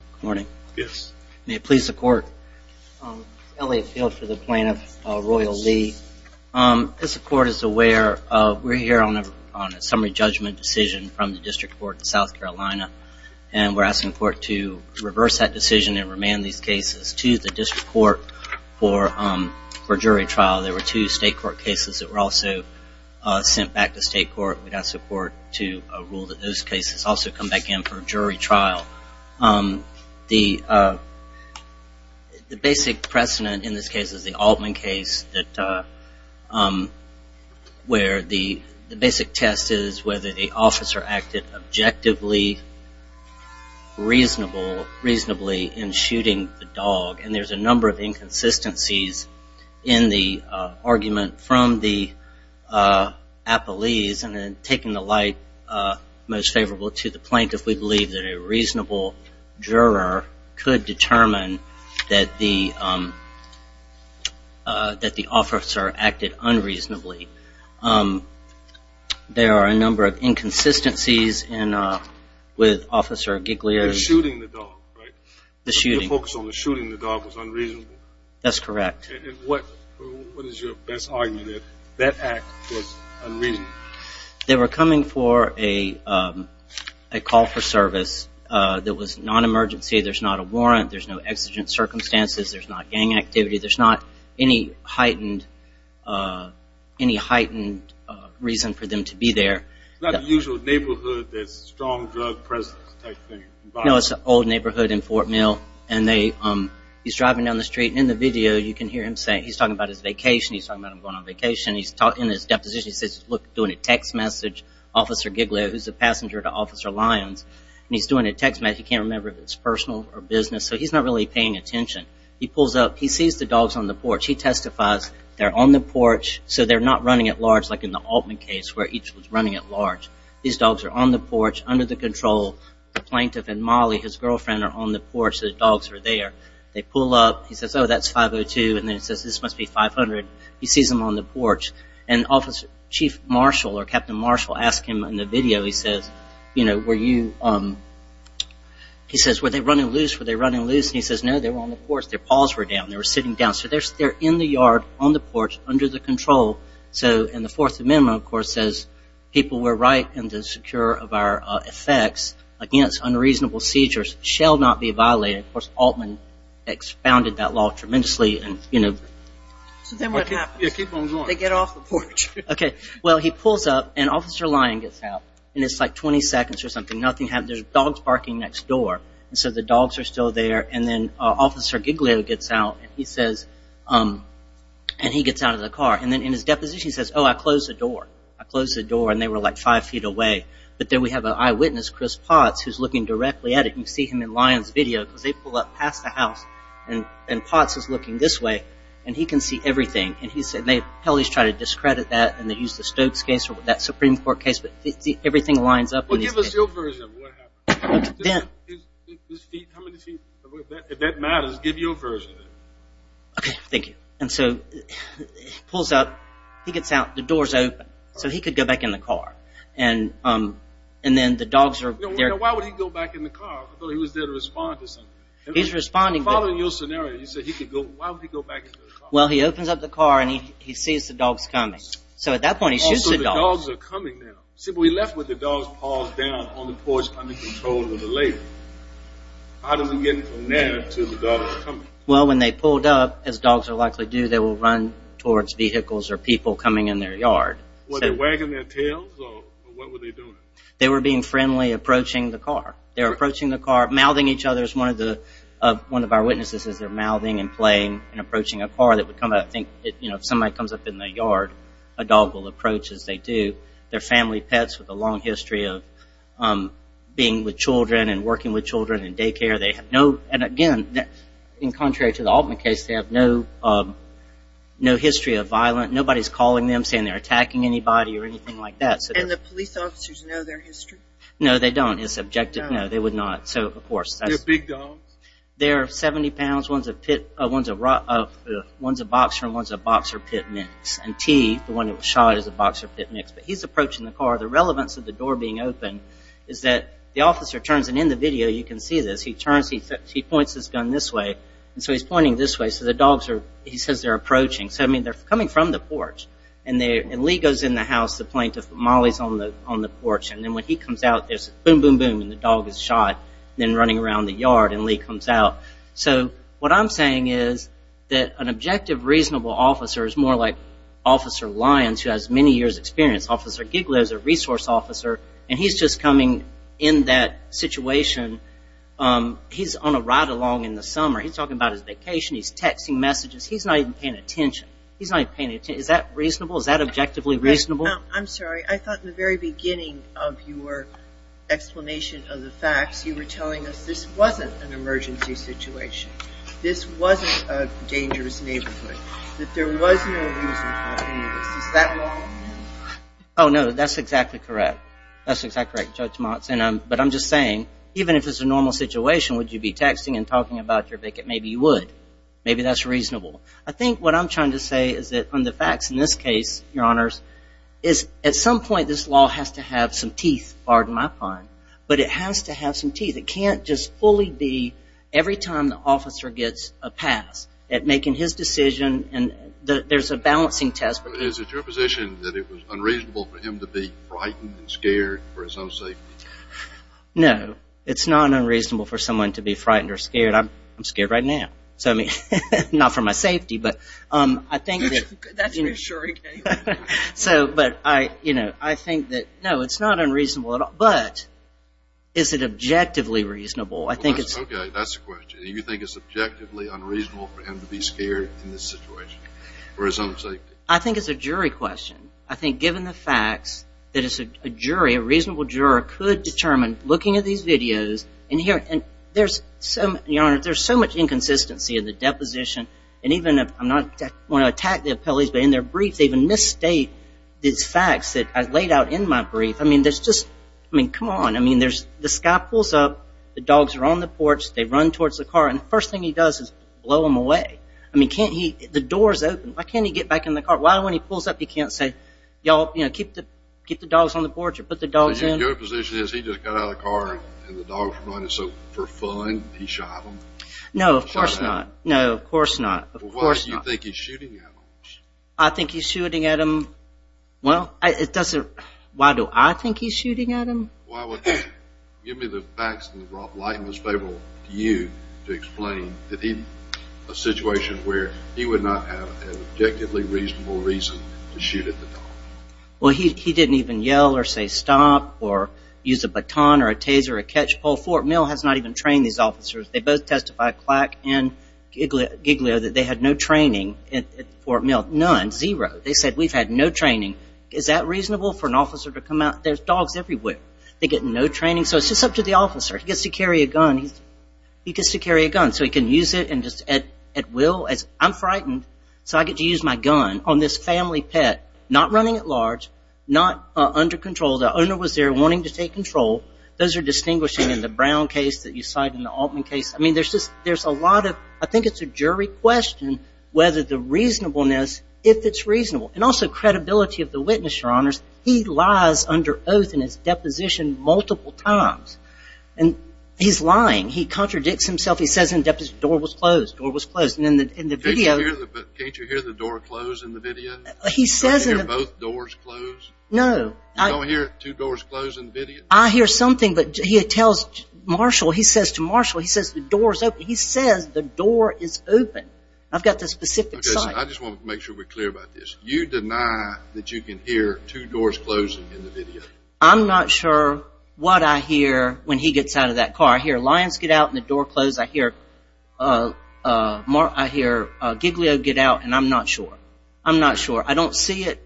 Good morning. May it please the court, Elliot Field for the plaintiff, Royal Lee. As the court is aware, we're here on a summary judgment decision from the district court in South Carolina, and we're asking the court to reverse that decision and remand these cases to the district court for jury trial. There were two state court cases that were also sent back to state court. We'd ask the court to rule that those cases also come back in for jury trial. The basic precedent in this case is the Altman case where the basic test is whether the officer acted objectively, reasonably in shooting the dog, and there's a number of inconsistencies in the argument from the appellees. Taking the light most favorable to the plaintiff, we believe that a reasonable juror could determine that the officer acted unreasonably. There are a number of inconsistencies with Officer Giglio's... They were coming for a call for service that was non-emergency. There's not a warrant. There's no exigent circumstances. There's not gang activity. There's not any heightened reason for them to be there. It's an old neighborhood in Fort Mill. He's driving down the street, and in the video, you can hear him saying he's talking about his vacation. He's talking about him going on vacation. In his deposition, he says, look, doing a text message. Officer Giglio, who's a passenger to Officer Lyons, and he's doing a text message. He can't remember if it's personal or business, so he's not really paying attention. He pulls up. He sees the dogs on the porch. He testifies they're on the porch, so they're not running at large like in the Altman case where each was running at large. These dogs are on the porch, under the control. The plaintiff and Molly, his girlfriend, are on the porch. The dogs are there. They pull up. He says, oh, that's 502, and then he says, this must be 500. He sees them on the porch. Officer Chief Marshall or Captain Marshall asks him in the video, he says, were they running loose? Were they running loose? He says, no, they were on the porch. Their paws were down. They were sitting down, so they're in the yard on the porch under the control. The Fourth Amendment, of course, says people were right and secure of our effects against unreasonable seizures shall not be violated. Of course, Altman expounded that law tremendously. So then what happens? They get off the porch. Well, he pulls up, and Officer Lyon gets out. It's like 20 seconds or something. There's dogs barking next door, so the dogs are still there. Then Officer Giglio gets out, and he gets out of the car. Then in his deposition, he says, oh, I closed the door. I closed the door, and they were like five feet away. But then we have an eyewitness, Chris Potts, who's looking directly at it. You see him in Lyon's video, because they pull up past the house, and Potts is looking this way, and he can see everything. He said, hell, he's trying to discredit that, and they used the Stokes case or that Supreme Court case, but everything lines up in these cases. Well, give us your version of what happened. Dan. How many feet? If that matters, give your version. Okay, thank you. And so he pulls up. He gets out. The door's open, so he could go back in the car, and then the dogs are there. Now, why would he go back in the car? I thought he was there to respond to something. He's responding. I'm following your scenario. You said he could go. Why would he go back in the car? Well, he opens up the car, and he sees the dogs coming. So at that point, he shoots the dogs. Oh, so the dogs are coming now. See, but we left with the dogs paused down on the porch under control of the labor. How does he get from there to the dogs coming? Well, when they pulled up, as dogs are likely to do, they will run towards vehicles or people coming in their yard. Were they wagging their tails, or what were they doing? They were being friendly, approaching the car. They were approaching the car, mouthing each other. One of our witnesses says they're mouthing and playing and approaching a car that would come up. I think if somebody comes up in the yard, a dog will approach as they do. They're family pets with a long history of being with children and working with children in daycare. And again, contrary to the Altman case, they have no history of violence. Nobody's calling them, saying they're attacking anybody or anything like that. And the police officers know their history? No, they don't. It's subjective. No, they would not. They're big dogs? They're 70 pounds. One's a boxer and one's a boxer-pit mix. And T, the one that was shot, is a boxer-pit mix. But he's approaching the car. The relevance of the door being open is that the officer turns, and in the video you can see this. He turns. He points his gun this way. And so he's pointing this way. So the dogs are, he says they're approaching. So, I mean, they're coming from the porch. And Lee goes in the house. The plaintiff, Molly, is on the porch. And then when he comes out, there's boom, boom, boom, and the dog is shot. Then running around the yard, and Lee comes out. So what I'm saying is that an objective, reasonable officer is more like Officer Lyons, who has many years' experience. Officer Giglett is a resource officer, and he's just coming in that situation. He's on a ride-along in the summer. He's talking about his vacation. He's texting messages. He's not even paying attention. He's not even paying attention. Is that reasonable? Is that objectively reasonable? I'm sorry. I thought in the very beginning of your explanation of the facts, you were telling us this wasn't an emergency situation. This wasn't a dangerous neighborhood. That there was no reason for any of this. Is that wrong? Oh, no, that's exactly correct. That's exactly correct, Judge Motz. But I'm just saying, even if it's a normal situation, would you be texting and talking about your vic-it? Maybe you would. Maybe that's reasonable. I think what I'm trying to say is that on the facts in this case, Your Honors, is at some point this law has to have some teeth. It can't just fully be every time the officer gets a pass at making his decision. There's a balancing test. Is it your position that it was unreasonable for him to be frightened and scared for his own safety? No, it's not unreasonable for someone to be frightened or scared. I'm scared right now, not for my safety. That's reassuring. But I think that, no, it's not unreasonable at all. But is it objectively reasonable? Okay, that's the question. Do you think it's objectively unreasonable for him to be scared in this situation for his own safety? I think it's a jury question. I think, given the facts, that a jury, a reasonable juror, could determine, looking at these videos, and there's so much inconsistency in the deposition. I don't want to attack the appellees, but in their briefs they even misstate these facts that are laid out in my brief. I mean, come on. The guy pulls up. The dogs are on the porch. They run towards the car. And the first thing he does is blow them away. I mean, can't he? The door's open. Why can't he get back in the car? Why, when he pulls up, he can't say, keep the dogs on the porch or put the dogs in? Your position is he just got out of the car and the dogs were running. So, for fun, he shot them? No, of course not. Of course not. Well, why do you think he's shooting at them? I think he's shooting at them. Well, it doesn't – why do I think he's shooting at them? Well, give me the facts in the broad light and it's favorable to you to explain a situation where he would not have an objectively reasonable reason to shoot at the dog. Well, he didn't even yell or say stop or use a baton or a taser or a catch pull. Fort Mill has not even trained these officers. They both testify, Clack and Giglio, that they had no training at Fort Mill. None, zero. They said, we've had no training. Is that reasonable for an officer to come out? There's dogs everywhere. They get no training. So it's just up to the officer. He gets to carry a gun. He gets to carry a gun so he can use it at will. I'm frightened so I get to use my gun on this family pet, not running at large, not under control. The owner was there wanting to take control. Those are distinguishing in the Brown case that you cite and the Altman case. I mean, there's a lot of I think it's a jury question whether the reasonableness, if it's reasonable, and also credibility of the witness, Your Honors. He lies under oath in his deposition multiple times. And he's lying. He contradicts himself. He says in deposition, door was closed, door was closed. Can't you hear the door closed in the video? Can't you hear both doors closed? No. You don't hear two doors closed in the video? I hear something, but he tells Marshall, he says to Marshall, he says the door is open. He says the door is open. I've got the specific site. I just want to make sure we're clear about this. You deny that you can hear two doors closed in the video. I'm not sure what I hear when he gets out of that car. I hear lions get out and the door closed. I hear Gigglio get out, and I'm not sure. I'm not sure. I don't see it,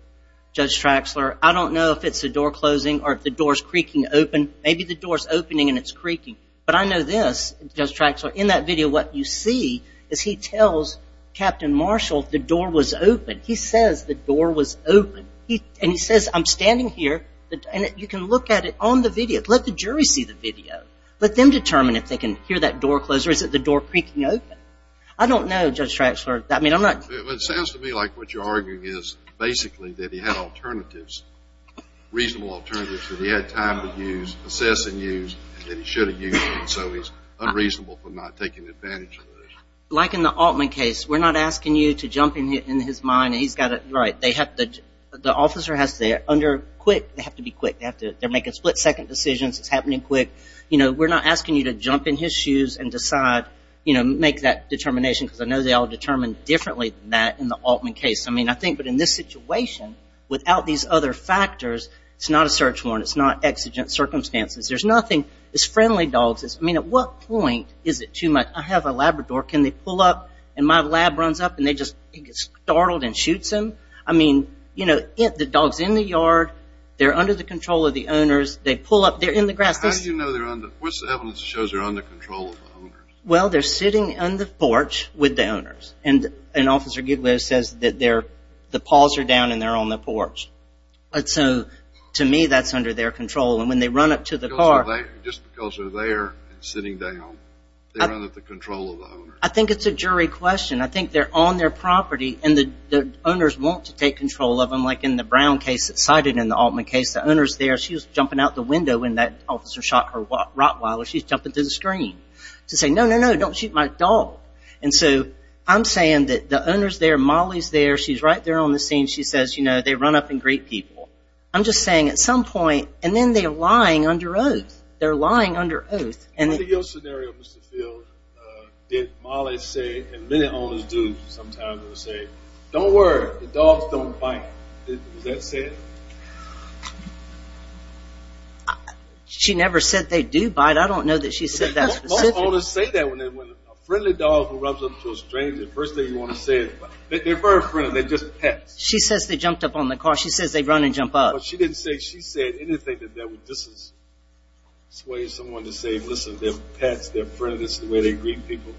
Judge Traxler. I don't know if it's the door closing or if the door is creaking open. Maybe the door is opening and it's creaking. But I know this, Judge Traxler, in that video what you see is he tells Captain Marshall the door was open. He says the door was open. And he says, I'm standing here, and you can look at it on the video. Let the jury see the video. Let them determine if they can hear that door close or is it the door creaking open. I don't know, Judge Traxler. It sounds to me like what you're arguing is basically that he had alternatives, reasonable alternatives, that he had time to use, assess and use, and that he should have used them. So he's unreasonable for not taking advantage of those. Like in the Altman case, we're not asking you to jump in his mind. He's got it right. The officer has to be quick. They have to be quick. They're making split-second decisions. It's happening quick. We're not asking you to jump in his shoes and decide, make that determination, because I know they all determine differently than that in the Altman case. I mean, I think that in this situation, without these other factors, it's not a search warrant. It's not exigent circumstances. There's nothing. It's friendly dogs. I mean, at what point is it too much? I have a Labrador. Can they pull up, and my lab runs up, and they just get startled and shoots them? I mean, you know, the dog's in the yard. They're under the control of the owners. They pull up. They're in the grass. How do you know they're under? What's the evidence that shows they're under control of the owners? Well, they're sitting on the porch with the owners, and Officer Goodwill says that the paws are down and they're on the porch. So, to me, that's under their control, and when they run up to the car. Just because they're there and sitting down, they're under the control of the owners. I think it's a jury question. I think they're on their property, and the owners want to take control of them, like in the Brown case that's cited in the Altman case. The owner's there. She was jumping out the window when that officer shot her rottweiler. She's jumping through the screen to say, no, no, no, don't shoot my dog. And so I'm saying that the owner's there. Molly's there. She's right there on the scene. She says, you know, they run up and greet people. I'm just saying at some point, and then they're lying under oath. They're lying under oath. What other scenario, Mr. Field, did Molly say, and many owners do sometimes say, don't worry, the dogs don't bite? Was that said? She never said they do bite. I don't know that she said that specifically. Most owners say that when a friendly dog rubs up to a stranger. The first thing you want to say, they're very friendly. They're just pets. She says they jumped up on the car. She says they run and jump up. But she didn't say anything that would dissuade someone to say, listen, they're pets, they're friendly, that's the way they greet people.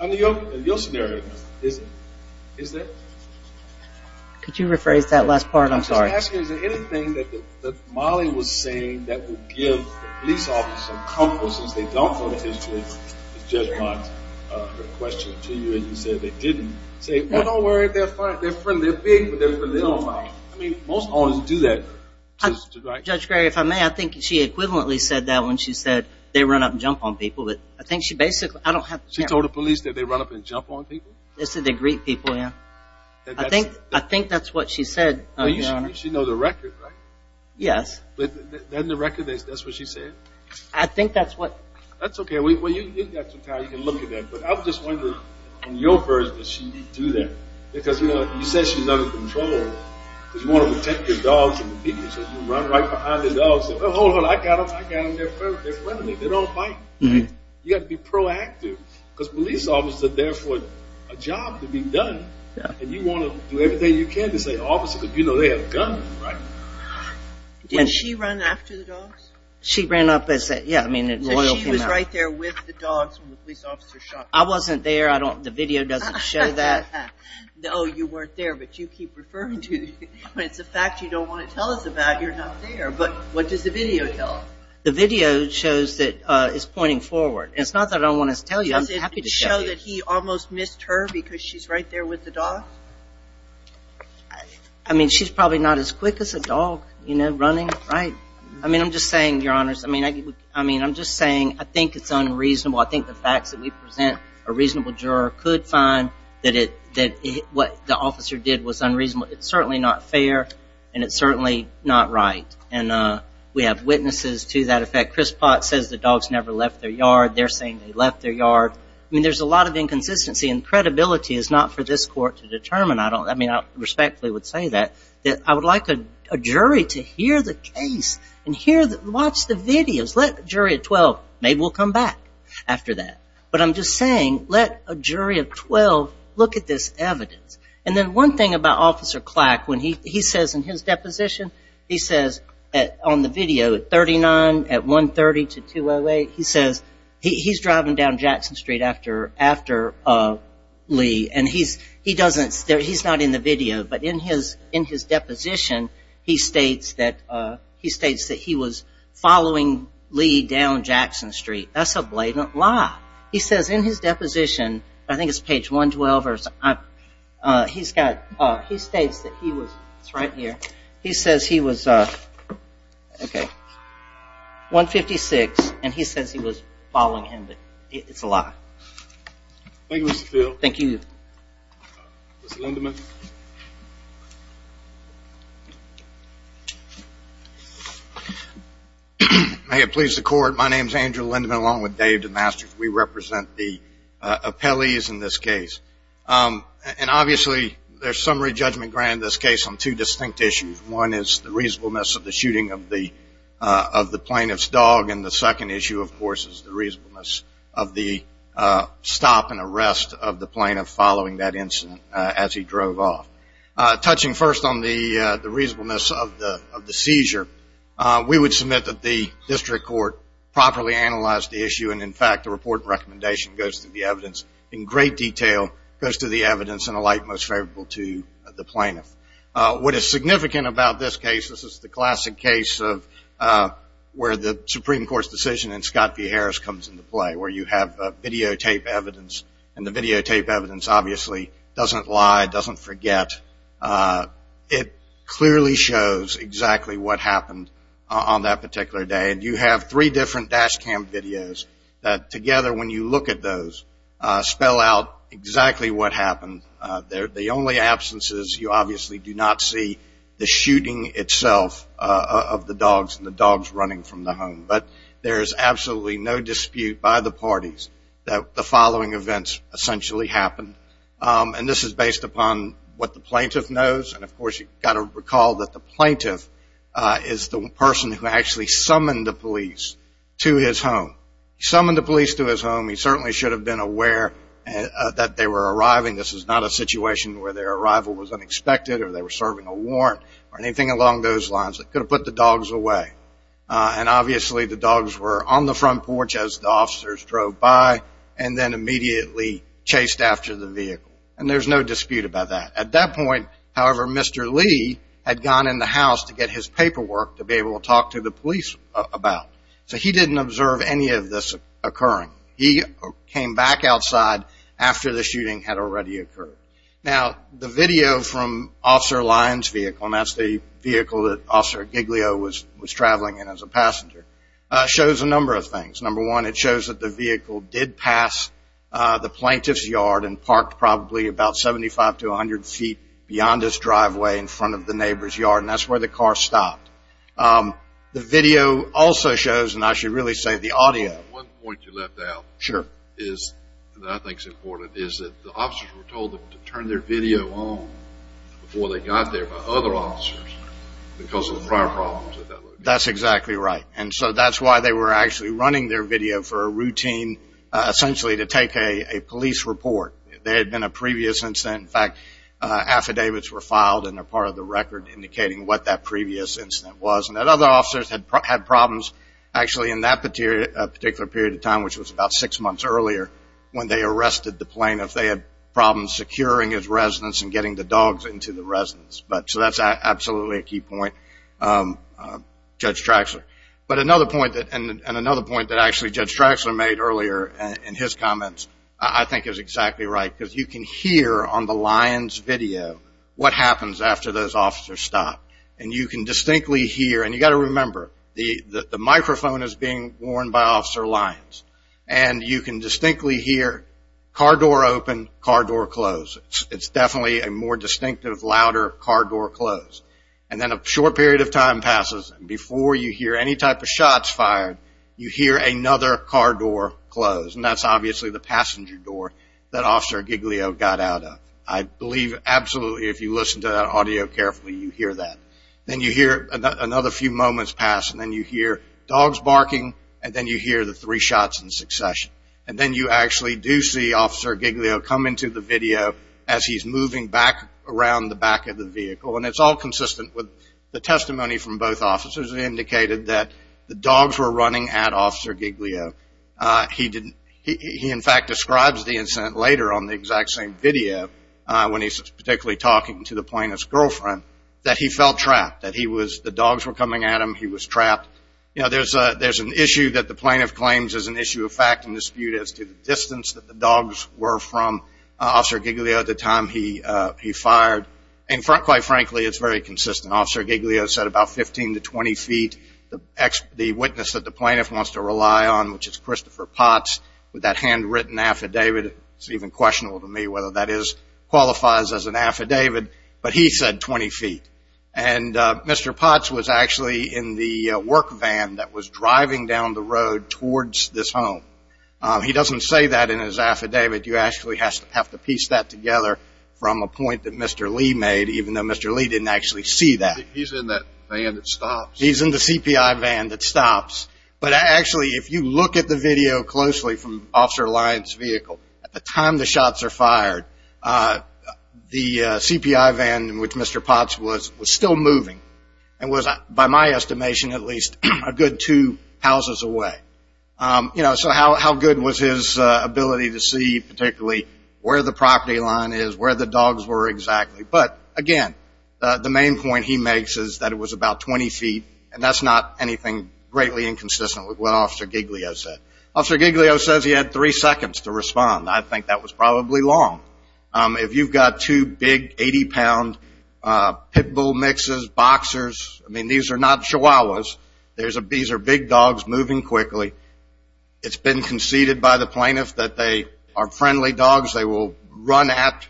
Under your scenario, is that? Could you rephrase that last part? I'm sorry. I'm asking is there anything that Molly was saying that would give the police officer comfort since they don't know the history of Judge Marks. Her question to you is you said they didn't say, well, don't worry, they're friendly, they're big, but they don't bite. I mean, most owners do that. Judge Gray, if I may, I think she equivalently said that when she said they run up and jump on people. I think she basically – She told the police that they run up and jump on people? She said they greet people, yeah. I think that's what she said, Your Honor. She knows the record, right? Yes. Then the record, that's what she said? I think that's what – That's okay. You can look at that. But I was just wondering, in your version, does she do that? Because you said she's under control because you want to protect your dogs and your people. So you run right behind the dogs and say, well, hold on, I got them, they're friendly, they don't bite. You got to be proactive because police officers are there for a job to be done and you want to do everything you can to say, obviously, because you know they have guns, right? Did she run after the dogs? She ran up and said, yeah, I mean – So she was right there with the dogs when the police officer shot her? I wasn't there. The video doesn't show that. No, you weren't there, but you keep referring to it. It's a fact you don't want to tell us about. You're not there. But what does the video tell us? The video shows that it's pointing forward. It's not that I don't want to tell you. I'm happy to tell you. Does it show that he almost missed her because she's right there with the dogs? I mean, she's probably not as quick as a dog, you know, running, right? I mean, I'm just saying, Your Honors, I mean, I'm just saying, I think it's unreasonable. I think the facts that we present, a reasonable juror could find that what the officer did was unreasonable. It's certainly not fair and it's certainly not right. And we have witnesses to that effect. Chris Potts says the dogs never left their yard. They're saying they left their yard. I mean, there's a lot of inconsistency and credibility is not for this jury to determine. I mean, I respectfully would say that. I would like a jury to hear the case and watch the videos. Let a jury of 12, maybe we'll come back after that. But I'm just saying, let a jury of 12 look at this evidence. And then one thing about Officer Clack, when he says in his deposition, he says on the video, at 39, at 130 to 208, he says, he's driving down Jackson Street after Lee, and he's not in the video, but in his deposition, he states that he was following Lee down Jackson Street. That's a blatant lie. He says in his deposition, I think it's page 112, he states that he was, it's right here, he says he was, okay, 156, and he says he was following him, but it's a lie. Thank you, Mr. Phil. Thank you. Mr. Lindeman. May it please the Court, my name is Andrew Lindeman, along with Dave DeMasters, we represent the appellees in this case. And obviously there's summary judgment granted in this case on two distinct issues. One is the reasonableness of the shooting of the plaintiff's dog, and the second issue, of course, is the reasonableness of the stop and arrest of the plaintiff following that incident as he drove off. Touching first on the reasonableness of the seizure, we would submit that the district court properly analyzed the issue, and, in fact, the report and recommendation goes through the evidence in great detail, goes through the evidence in a light most favorable to the plaintiff. What is significant about this case, this is the classic case of where the Supreme Court's decision in Scott v. Harris comes into play, where you have videotape evidence, and the videotape evidence obviously doesn't lie, doesn't forget. It clearly shows exactly what happened on that particular day, and you have three different dash cam videos that, together, when you look at those, spell out exactly what happened. The only absence is you obviously do not see the shooting itself of the dogs and the dogs running from the home. But there is absolutely no dispute by the parties that the following events essentially happened, and this is based upon what the plaintiff knows, and, of course, you've got to recall that the plaintiff is the person who actually summoned the police to his home. He summoned the police to his home. He certainly should have been aware that they were arriving. This is not a situation where their arrival was unexpected or they were serving a warrant or anything along those lines. They could have put the dogs away, and obviously the dogs were on the front porch as the officers drove by and then immediately chased after the vehicle, and there's no dispute about that. At that point, however, Mr. Lee had gone in the house to get his paperwork to be able to talk to the police about, so he didn't observe any of this occurring. He came back outside after the shooting had already occurred. Now, the video from Officer Lyon's vehicle, and that's the vehicle that Officer Giglio was traveling in as a passenger, shows a number of things. Number one, it shows that the vehicle did pass the plaintiff's yard and parked probably about 75 to 100 feet beyond his driveway in front of the neighbor's yard, and that's where the car stopped. The video also shows, and I should really say the audio. One point you left out that I think is important is that the officers were told to turn their video on before they got there by other officers because of the prior problems at that location. That's exactly right, and so that's why they were actually running their video for a routine, essentially to take a police report. There had been a previous incident. In fact, affidavits were filed and are part of the record indicating what that previous incident was, and that other officers had problems actually in that particular period of time, which was about six months earlier, when they arrested the plaintiff. They had problems securing his residence and getting the dogs into the residence. So that's absolutely a key point, Judge Traxler. But another point that actually Judge Traxler made earlier in his comments I think is exactly right because you can hear on the Lyon's video what happens after those officers stop, and you can distinctly hear, and you've got to remember, the microphone is being worn by Officer Lyons, and you can distinctly hear car door open, car door close. It's definitely a more distinctive, louder car door close. And then a short period of time passes, and before you hear any type of shots fired, you hear another car door close, and that's obviously the passenger door that Officer Giglio got out of. I believe absolutely if you listen to that audio carefully, you hear that. Then you hear another few moments pass, and then you hear dogs barking, and then you hear the three shots in succession. And then you actually do see Officer Giglio come into the video as he's moving back around the back of the vehicle, and it's all consistent with the testimony from both officers that indicated that the dogs were running at Officer Giglio. He, in fact, describes the incident later on the exact same video when he's particularly talking to the plaintiff's girlfriend, that he felt trapped, that the dogs were coming at him, he was trapped. You know, there's an issue that the plaintiff claims is an issue of fact and dispute as to the distance that the dogs were from Officer Giglio at the time he fired, and quite frankly, it's very consistent. Officer Giglio said about 15 to 20 feet. The witness that the plaintiff wants to rely on, which is Christopher Potts, with that handwritten affidavit, it's even questionable to me whether that qualifies as an affidavit, but he said 20 feet. And Mr. Potts was actually in the work van that was driving down the road towards this home. He doesn't say that in his affidavit. You actually have to piece that together from a point that Mr. Lee made, even though Mr. Lee didn't actually see that. He's in that van that stops. He's in the CPI van that stops. But actually, if you look at the video closely from Officer Lyon's vehicle, at the time the shots are fired, the CPI van in which Mr. Potts was was still moving and was, by my estimation at least, a good two houses away. So how good was his ability to see particularly where the property line is, where the dogs were exactly. But, again, the main point he makes is that it was about 20 feet, and that's not anything greatly inconsistent with what Officer Giglio said. Officer Giglio says he had three seconds to respond. I think that was probably long. If you've got two big 80-pound pit bull mixes, boxers, I mean, these are not chihuahuas. These are big dogs moving quickly. It's been conceded by the plaintiff that they are friendly dogs. They will run at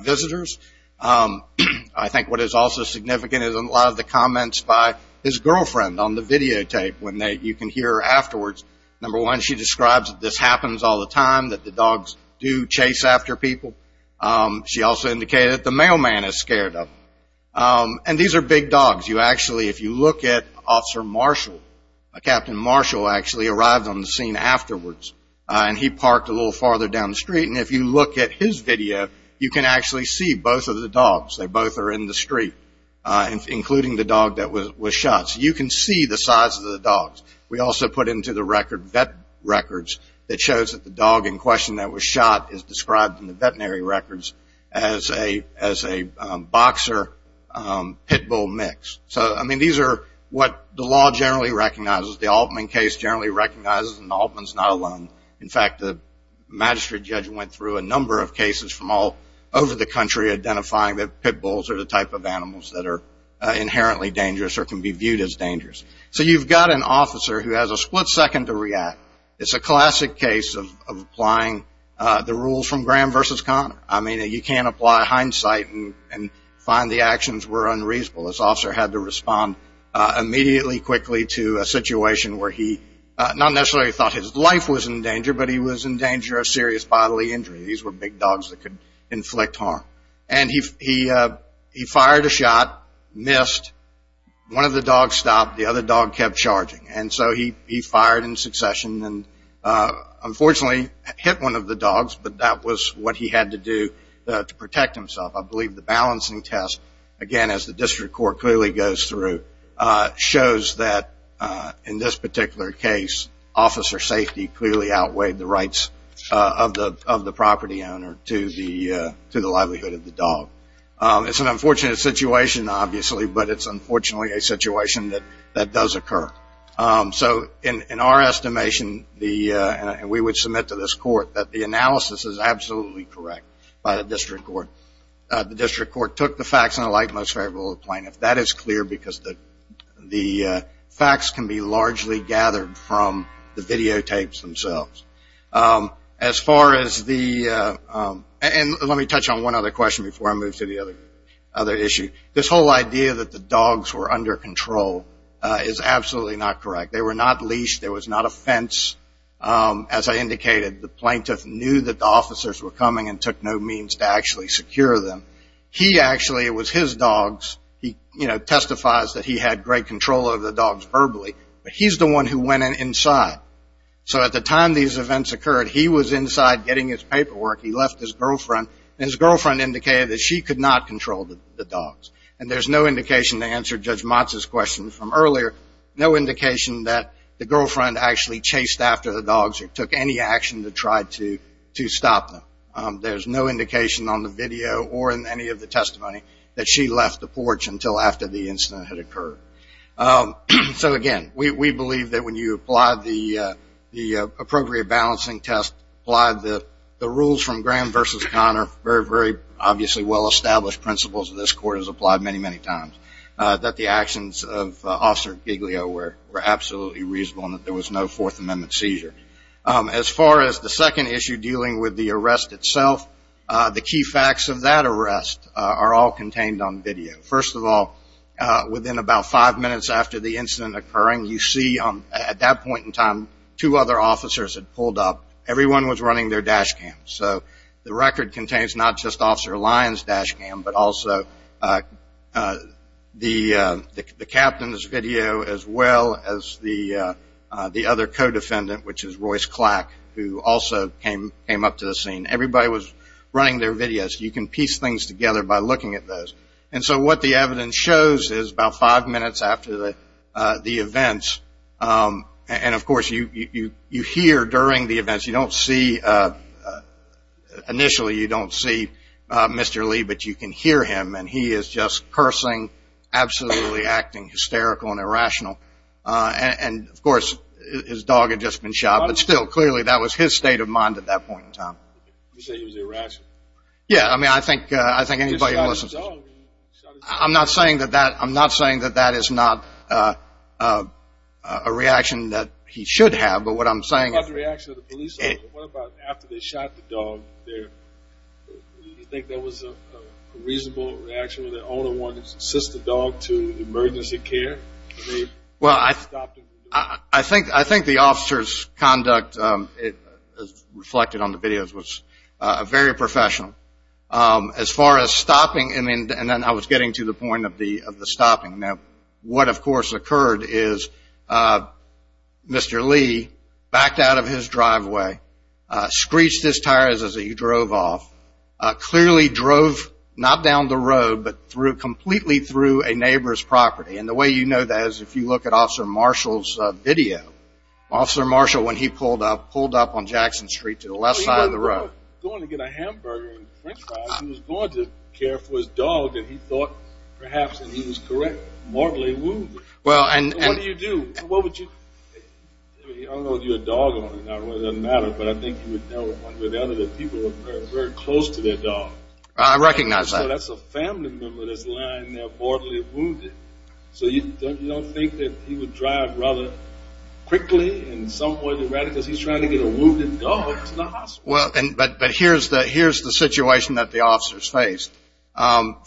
visitors. I think what is also significant is a lot of the comments by his girlfriend on the videotape. You can hear her afterwards. Number one, she describes that this happens all the time, that the dogs do chase after people. She also indicated that the mailman is scared of them. And these are big dogs. You actually, if you look at Officer Marshall, Captain Marshall actually arrived on the scene afterwards, and he parked a little farther down the street. And if you look at his video, you can actually see both of the dogs. They both are in the street, including the dog that was shot. So you can see the size of the dogs. We also put into the record vet records that shows that the dog in question that was shot is described in the veterinary records as a boxer-pit bull mix. So, I mean, these are what the law generally recognizes. The Altman case generally recognizes, and Altman's not alone. In fact, the magistrate judge went through a number of cases from all over the country identifying that pit bulls are the type of animals that are inherently dangerous or can be viewed as dangerous. So you've got an officer who has a split second to react. It's a classic case of applying the rules from Graham versus Conner. I mean, you can't apply hindsight and find the actions were unreasonable. This officer had to respond immediately, quickly, to a situation where he not necessarily thought his life was in danger, but he was in danger of serious bodily injury. These were big dogs that could inflict harm. And he fired a shot, missed. One of the dogs stopped. The other dog kept charging. And so he fired in succession and unfortunately hit one of the dogs, but that was what he had to do to protect himself. I believe the balancing test, again, as the district court clearly goes through, shows that in this particular case, officer safety clearly outweighed the rights of the property owner to the livelihood of the dog. It's an unfortunate situation, obviously, but it's unfortunately a situation that does occur. So in our estimation, and we would submit to this court, that the analysis is absolutely correct by the district court. The district court took the facts in a light, most favorable plane. If that is clear, because the facts can be largely gathered from the videotapes themselves. As far as the ‑‑ and let me touch on one other question before I move to the other issue. This whole idea that the dogs were under control is absolutely not correct. They were not leashed. There was not a fence. As I indicated, the plaintiff knew that the officers were coming and took no means to actually secure them. He actually, it was his dogs, he, you know, testifies that he had great control over the dogs verbally. But he's the one who went inside. So at the time these events occurred, he was inside getting his paperwork. He left his girlfriend. And his girlfriend indicated that she could not control the dogs. And there's no indication to answer Judge Motz's question from earlier, no indication that the girlfriend actually chased after the dogs or took any action to try to stop them. There's no indication on the video or in any of the testimony that she left the porch until after the incident had occurred. So, again, we believe that when you apply the appropriate balancing test, apply the rules from Graham versus Conner, very, very obviously well‑established principles of this court as applied many, many times, that the actions of Officer Giglio were absolutely reasonable and that there was no Fourth Amendment seizure. As far as the second issue dealing with the arrest itself, the key facts of that arrest are all contained on video. First of all, within about five minutes after the incident occurring, you see at that point in time two other officers had pulled up. Everyone was running their dash cam. So the record contains not just Officer Lyon's dash cam, but also the captain's video as well as the other co‑defendant, which is Royce Clack, who also came up to the scene. Everybody was running their videos. You can piece things together by looking at those. And so what the evidence shows is about five minutes after the events, and, of course, you hear during the events. You don't see ‑‑ initially you don't see Mr. Lee, but you can hear him, and he is just cursing, absolutely acting hysterical and irrational. And, of course, his dog had just been shot, but still clearly that was his state of mind at that point in time. You say he was irrational? Yeah, I mean, I think anybody who listens ‑‑ He shot his dog. I'm not saying that that is not a reaction that he should have, but what I'm saying is ‑‑ What about the reaction of the police? What about after they shot the dog? Do you think that was a reasonable reaction when the owner wanted to assist the dog to emergency care? Well, I think the officer's conduct reflected on the videos was very professional. As far as stopping, and then I was getting to the point of the stopping. Now, what, of course, occurred is Mr. Lee backed out of his driveway, screeched his tires as he drove off, clearly drove not down the road but completely through a neighbor's property. And the way you know that is if you look at Officer Marshall's video. Officer Marshall, when he pulled up, pulled up on Jackson Street to the left side of the road. He was going to get a hamburger and French fries. He was going to care for his dog that he thought perhaps, and he was correct, mortally wounded. What do you do? What would you ‑‑ I don't know if you're a dog owner. It doesn't matter, but I think you would know one way or the other that people are very close to their dogs. I recognize that. So that's a family member that's lying there mortally wounded. So you don't think that he would drive rather quickly in some way than the other because he's trying to get a wounded dog to the hospital. But here's the situation that the officers faced.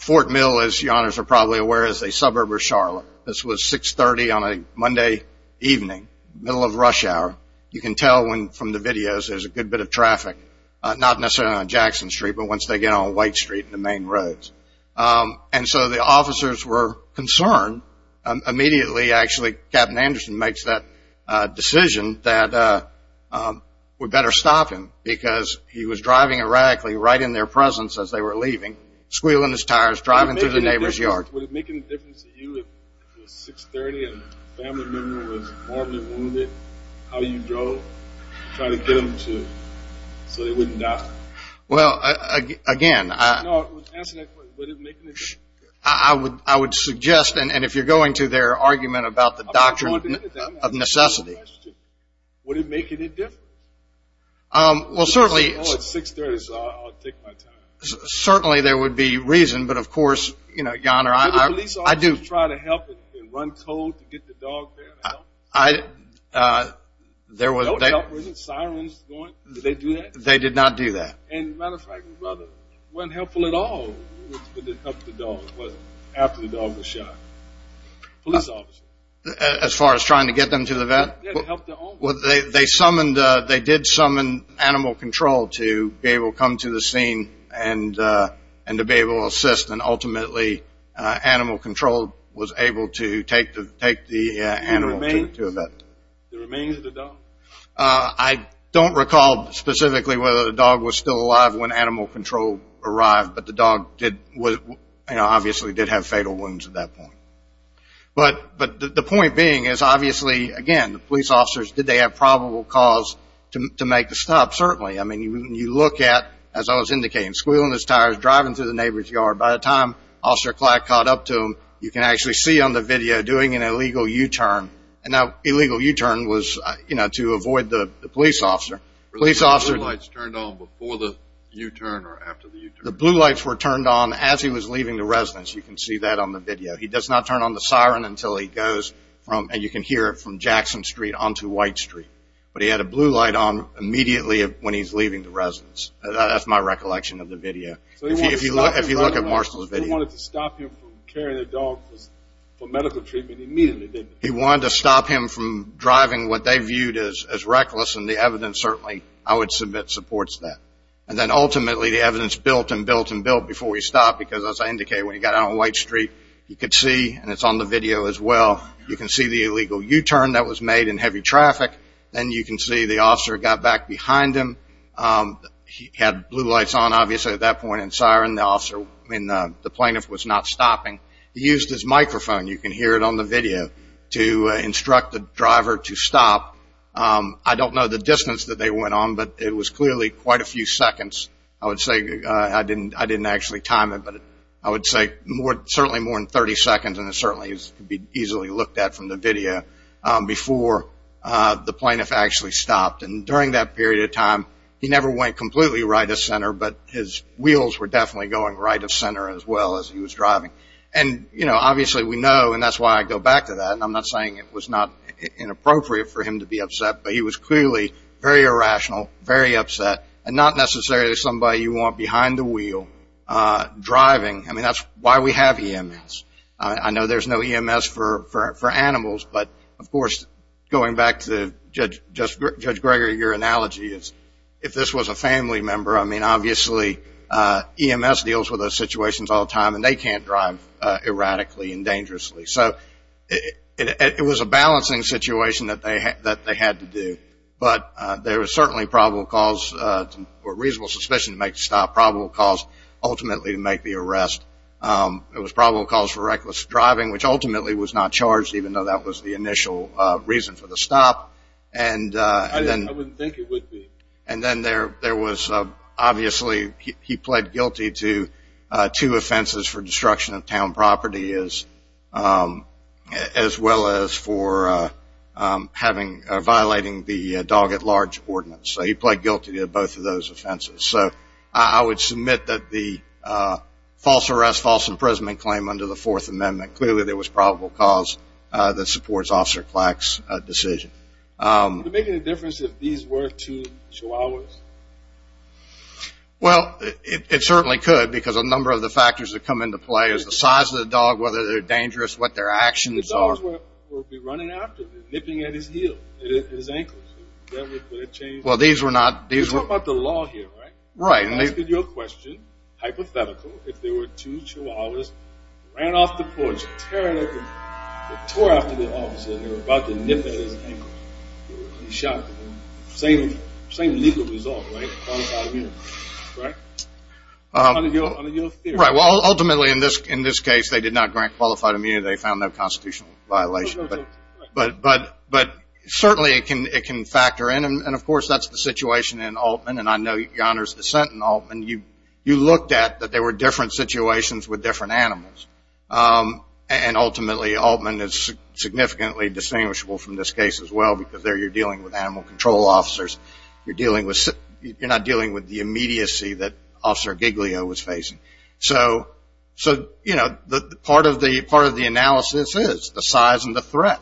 Fort Mill, as you are probably aware, is a suburb of Charlotte. This was 6.30 on a Monday evening, middle of rush hour. You can tell from the videos there's a good bit of traffic, not necessarily on Jackson Street but once they get on White Street and the main roads. And so the officers were concerned. Immediately, actually, Captain Anderson makes that decision that we better stop him because he was driving erratically right in their presence as they were leaving, squealing his tires, driving through the neighbor's yard. Would it make any difference to you if it was 6.30 and a family member was mortally wounded how you drove, trying to get them so they wouldn't die? Well, again, I ‑‑ No, answer that question. Would it make any difference? I would suggest, and if you're going to their argument about the doctrine of necessity. Answer the question. Would it make any difference? Well, certainly. Oh, it's 6.30, so I'll take my time. Certainly there would be reason, but of course, you know, Yonner, I do. Did the police officers try to help and run cold to get the dog there and help? There was ‑‑ No help, wasn't sirens going? Did they do that? They did not do that. As a matter of fact, brother, it wasn't helpful at all to help the dog after the dog was shot. Police officers. As far as trying to get them to the vet? Yeah, to help the owner. They summoned, they did summon animal control to be able to come to the scene and to be able to assist, and ultimately animal control was able to take the animal to a vet. The remains of the dog? I don't recall specifically whether the dog was still alive when animal control arrived, but the dog obviously did have fatal wounds at that point. But the point being is obviously, again, the police officers, did they have probable cause to make the stop? Certainly. I mean, you look at, as I was indicating, squealing his tires, driving through the neighbor's yard. By the time Officer Clark caught up to him, you can actually see on the video, doing an illegal U‑turn. And now illegal U‑turn was, you know, to avoid the police officer. Were the blue lights turned on before the U‑turn or after the U‑turn? The blue lights were turned on as he was leaving the residence. You can see that on the video. He does not turn on the siren until he goes from, and you can hear it from Jackson Street onto White Street. But he had a blue light on immediately when he's leaving the residence. That's my recollection of the video. If you look at Marshall's video. He wanted to stop him from driving what they viewed as reckless. And the evidence certainly, I would submit, supports that. And then ultimately, the evidence built and built and built before he stopped. Because as I indicated, when he got out on White Street, you could see, and it's on the video as well, you can see the illegal U‑turn that was made in heavy traffic. Then you can see the officer got back behind him. He had blue lights on obviously at that point and siren. The officer, I mean, the plaintiff was not stopping. He used his microphone. You can hear it on the video, to instruct the driver to stop. I don't know the distance that they went on, but it was clearly quite a few seconds. I would say, I didn't actually time it, but I would say certainly more than 30 seconds. And it certainly could be easily looked at from the video before the plaintiff actually stopped. And during that period of time, he never went completely right of center, but his wheels were definitely going right of center as well as he was driving. And, you know, obviously we know, and that's why I go back to that, and I'm not saying it was not inappropriate for him to be upset, but he was clearly very irrational, very upset, and not necessarily somebody you want behind the wheel driving. I mean, that's why we have EMS. I know there's no EMS for animals, but, of course, going back to Judge Greger, your analogy is if this was a family member, I mean, obviously EMS deals with those situations all the time, and they can't drive erratically and dangerously. So it was a balancing situation that they had to do, but there was certainly probable cause or reasonable suspicion to make the stop, probable cause ultimately to make the arrest. It was probable cause for reckless driving, which ultimately was not charged, even though that was the initial reason for the stop. I wouldn't think it would be. And then there was obviously he pled guilty to two offenses for destruction of town property, as well as for violating the dog at large ordinance. So he pled guilty to both of those offenses. So I would submit that the false arrest, false imprisonment claim under the Fourth Amendment, clearly there was probable cause that supports Officer Clack's decision. Would it make any difference if these were two chihuahuas? Well, it certainly could because a number of the factors that come into play is the size of the dog, whether they're dangerous, what their actions are. The dogs would be running after them, nipping at his heel, at his ankles. Would that change? Well, these were not. You're talking about the law here, right? Right. I'm asking you a question, hypothetical, if there were two chihuahuas, ran off the porch, tearing at them, tore after the officer, and they were about to nip at his ankle, he would be shot. Same legal result, right? Qualified immunity, right? Under your theory. Right. Well, ultimately in this case they did not grant qualified immunity. They found no constitutional violation. But certainly it can factor in. And, of course, that's the situation in Altman. And I know your Honor's dissent in Altman, you looked at that there were different situations with different animals. And ultimately Altman is significantly distinguishable from this case as well, because there you're dealing with animal control officers. You're not dealing with the immediacy that Officer Giglio was facing. So, you know, part of the analysis is the size and the threat.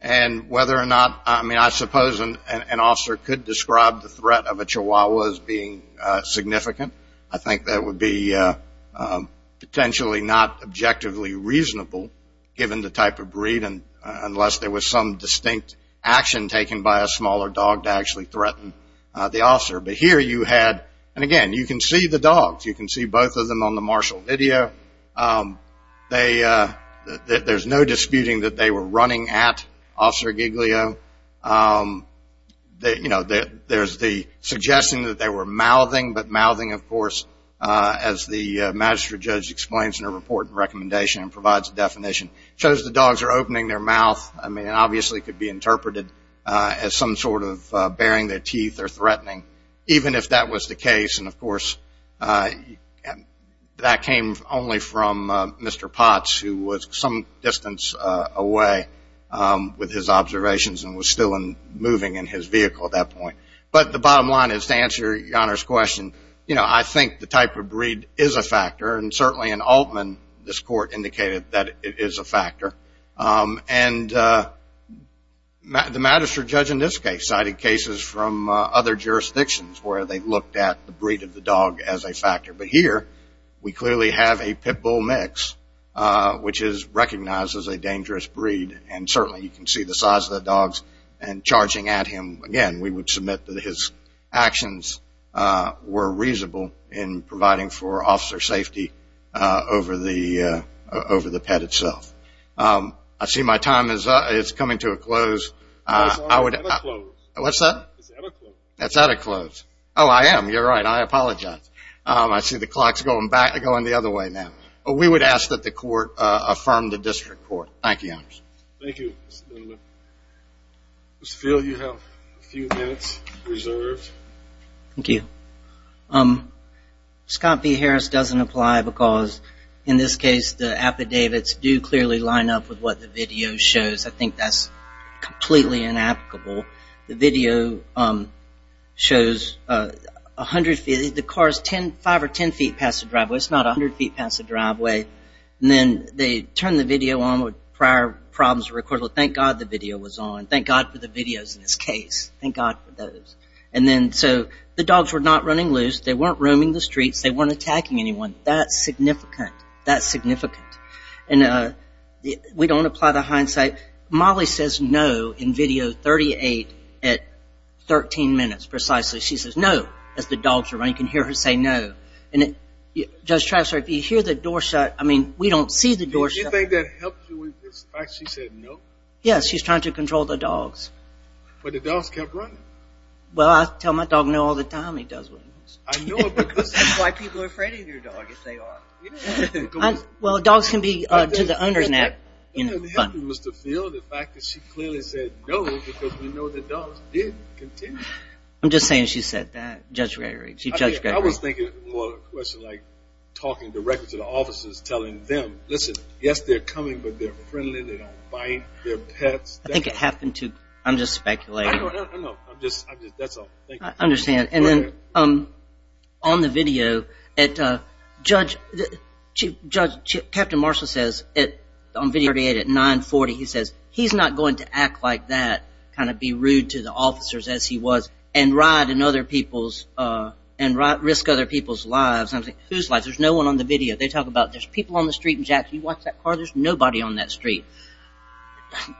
And whether or not, I mean, an officer could describe the threat of a chihuahua as being significant. I think that would be potentially not objectively reasonable, given the type of breed, unless there was some distinct action taken by a smaller dog to actually threaten the officer. But here you had, and, again, you can see the dogs. You can see both of them on the martial video. There's no disputing that they were running at Officer Giglio. You know, there's the suggesting that they were mouthing. But mouthing, of course, as the magistrate judge explains in her report and recommendation and provides a definition, shows the dogs are opening their mouth. I mean, it obviously could be interpreted as some sort of baring their teeth or threatening, even if that was the case. And, of course, that came only from Mr. Potts, who was some distance away with his observations and was still moving in his vehicle at that point. But the bottom line is, to answer your Honor's question, you know, I think the type of breed is a factor, and certainly in Altman, this court indicated that it is a factor. And the magistrate judge in this case cited cases from other jurisdictions where they looked at the breed of the dog as a factor. But here, we clearly have a pit bull mix, which is recognized as a dangerous breed, and certainly you can see the size of the dogs. And charging at him, again, we would submit that his actions were reasonable in providing for officer safety over the pet itself. I see my time is coming to a close. It's out of close. What's that? It's out of close. It's out of close. Oh, I am. You're right. I apologize. I see the clock's going the other way now. We would ask that the court affirm the district court. Thank you, Your Honors. Thank you, Mr. Dunlap. Mr. Field, you have a few minutes reserved. Thank you. Scott B. Harris doesn't apply because, in this case, the affidavits do clearly line up with what the video shows. I think that's completely inapplicable. The video shows a hundred feet. The car is five or ten feet past the driveway. It's not a hundred feet past the driveway. And then they turn the video on. Prior problems were recorded. Well, thank God the video was on. Thank God for the videos in this case. Thank God for those. So the dogs were not running loose. They weren't roaming the streets. They weren't attacking anyone. That's significant. That's significant. We don't apply the hindsight. Molly says no in video 38 at 13 minutes precisely. She says no as the dogs are running. You can hear her say no. Judge Travis, if you hear the door shut, I mean, we don't see the door shut. Do you think that helps you with this fact she said no? Yes, she's trying to control the dogs. But the dogs kept running. Well, I tell my dog no all the time. He does what he wants. I know because that's why people are afraid of your dog, if they are. Well, dogs can be to the owner's net. Mr. Field, the fact that she clearly said no because we know the dogs did continue. I'm just saying she said that, Judge Gregory. I was thinking more of a question like talking directly to the officers, telling them, listen, yes, they're coming, but they're friendly, they don't bite, they're pets. I think it happened to, I'm just speculating. I don't know. I'm just, that's all. I understand. On the video, Judge, Captain Marshall says, on video 38 at 940, he says, he's not going to act like that, kind of be rude to the officers as he was and ride in other people's, and risk other people's lives. Whose lives? There's no one on the video. They talk about there's people on the street in Jackson. You watch that car, there's nobody on that street.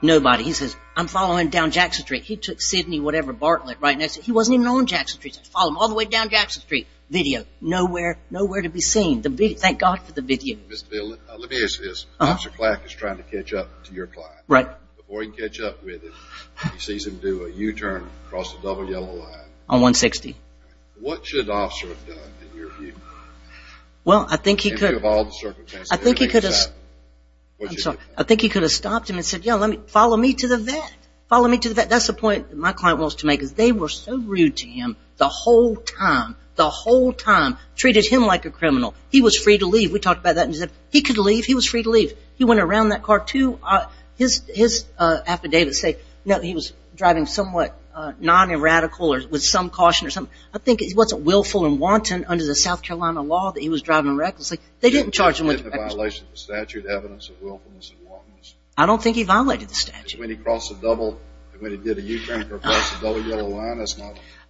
Nobody. He says, I'm following down Jackson Street. He took Sidney whatever Bartlett right next to him. He wasn't even on Jackson Street. He said, follow him all the way down Jackson Street. Video, nowhere to be seen. Thank God for the video. Mr. Bill, let me ask you this. Officer Clack is trying to catch up to your client. Right. Before he can catch up with him, he sees him do a U-turn across the double yellow line. On 160. What should an officer have done, in your view? Well, I think he could have. In view of all the circumstances. I think he could have. I'm sorry. I think he could have stopped him and said, follow me to the vet. Follow me to the vet. That's the point my client wants to make. They were so rude to him the whole time. The whole time. Treated him like a criminal. He was free to leave. We talked about that. He said, he could leave. He was free to leave. He went around that car, too. His affidavits say, no, he was driving somewhat non-eradical or with some caution or something. I think he wasn't willful and wanton under the South Carolina law that he was driving recklessly. They didn't charge him with reckless driving. I don't think he violated the statute.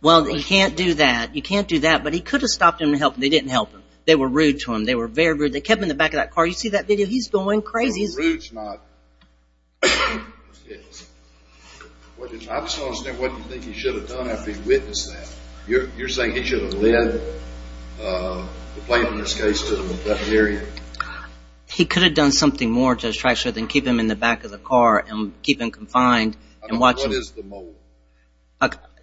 Well, you can't do that. You can't do that. But he could have stopped him and helped him. They didn't help him. They were rude to him. They were very rude. They kept him in the back of that car. You see that video? He's going crazy. He's not. I just don't understand what you think he should have done after he witnessed that. You're saying he should have led the plaintiff, in this case, to the affected area? He could have done something more to distract her than keep him in the back of the car and keep him confined and watch him. What is the mole?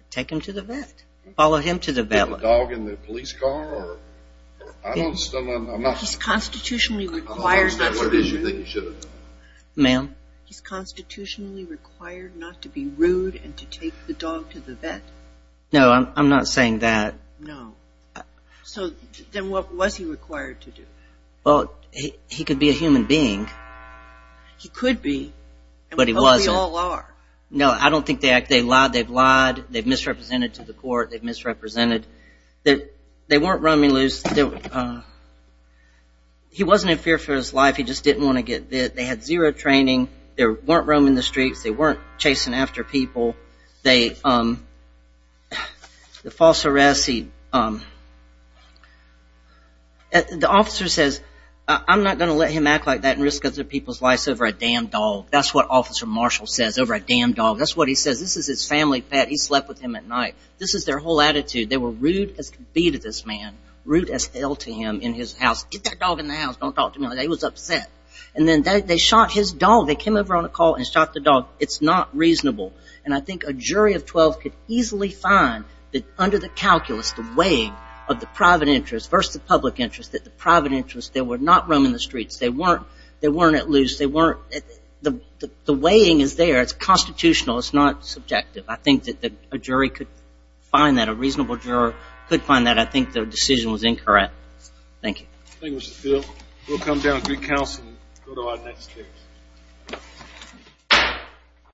Take him to the vet. Follow him to the vet. Put the dog in the police car? He's constitutionally required not to be rude. I don't understand what it is you think he should have done. Ma'am? He's constitutionally required not to be rude and to take the dog to the vet. No, I'm not saying that. No. So then what was he required to do? Well, he could be a human being. He could be. But he wasn't. But we all are. No, I don't think that. They've lied. They've lied. They've misrepresented to the court. They've misrepresented. They weren't roaming loose. He wasn't in fear for his life. He just didn't want to get bit. They had zero training. They weren't roaming the streets. They weren't chasing after people. The false arrest. The officer says, I'm not going to let him act like that and risk other people's lives over a damn dog. That's what Officer Marshall says, over a damn dog. That's what he says. This is his family pet. He slept with him at night. This is their whole attitude. They were rude as can be to this man, rude as hell to him in his house. Get that dog in the house. Don't talk to me like that. He was upset. And then they shot his dog. They came over on a call and shot the dog. It's not reasonable. And I think a jury of 12 could easily find that under the calculus, the weighing of the private interest versus the public interest, that the private interest, they were not roaming the streets. They weren't at loose. The weighing is there. It's constitutional. It's not subjective. I think that a jury could find that. A reasonable juror could find that. I think the decision was incorrect. Thank you. Thank you, Mr. Phil. We'll come down and get counsel and go to our next case.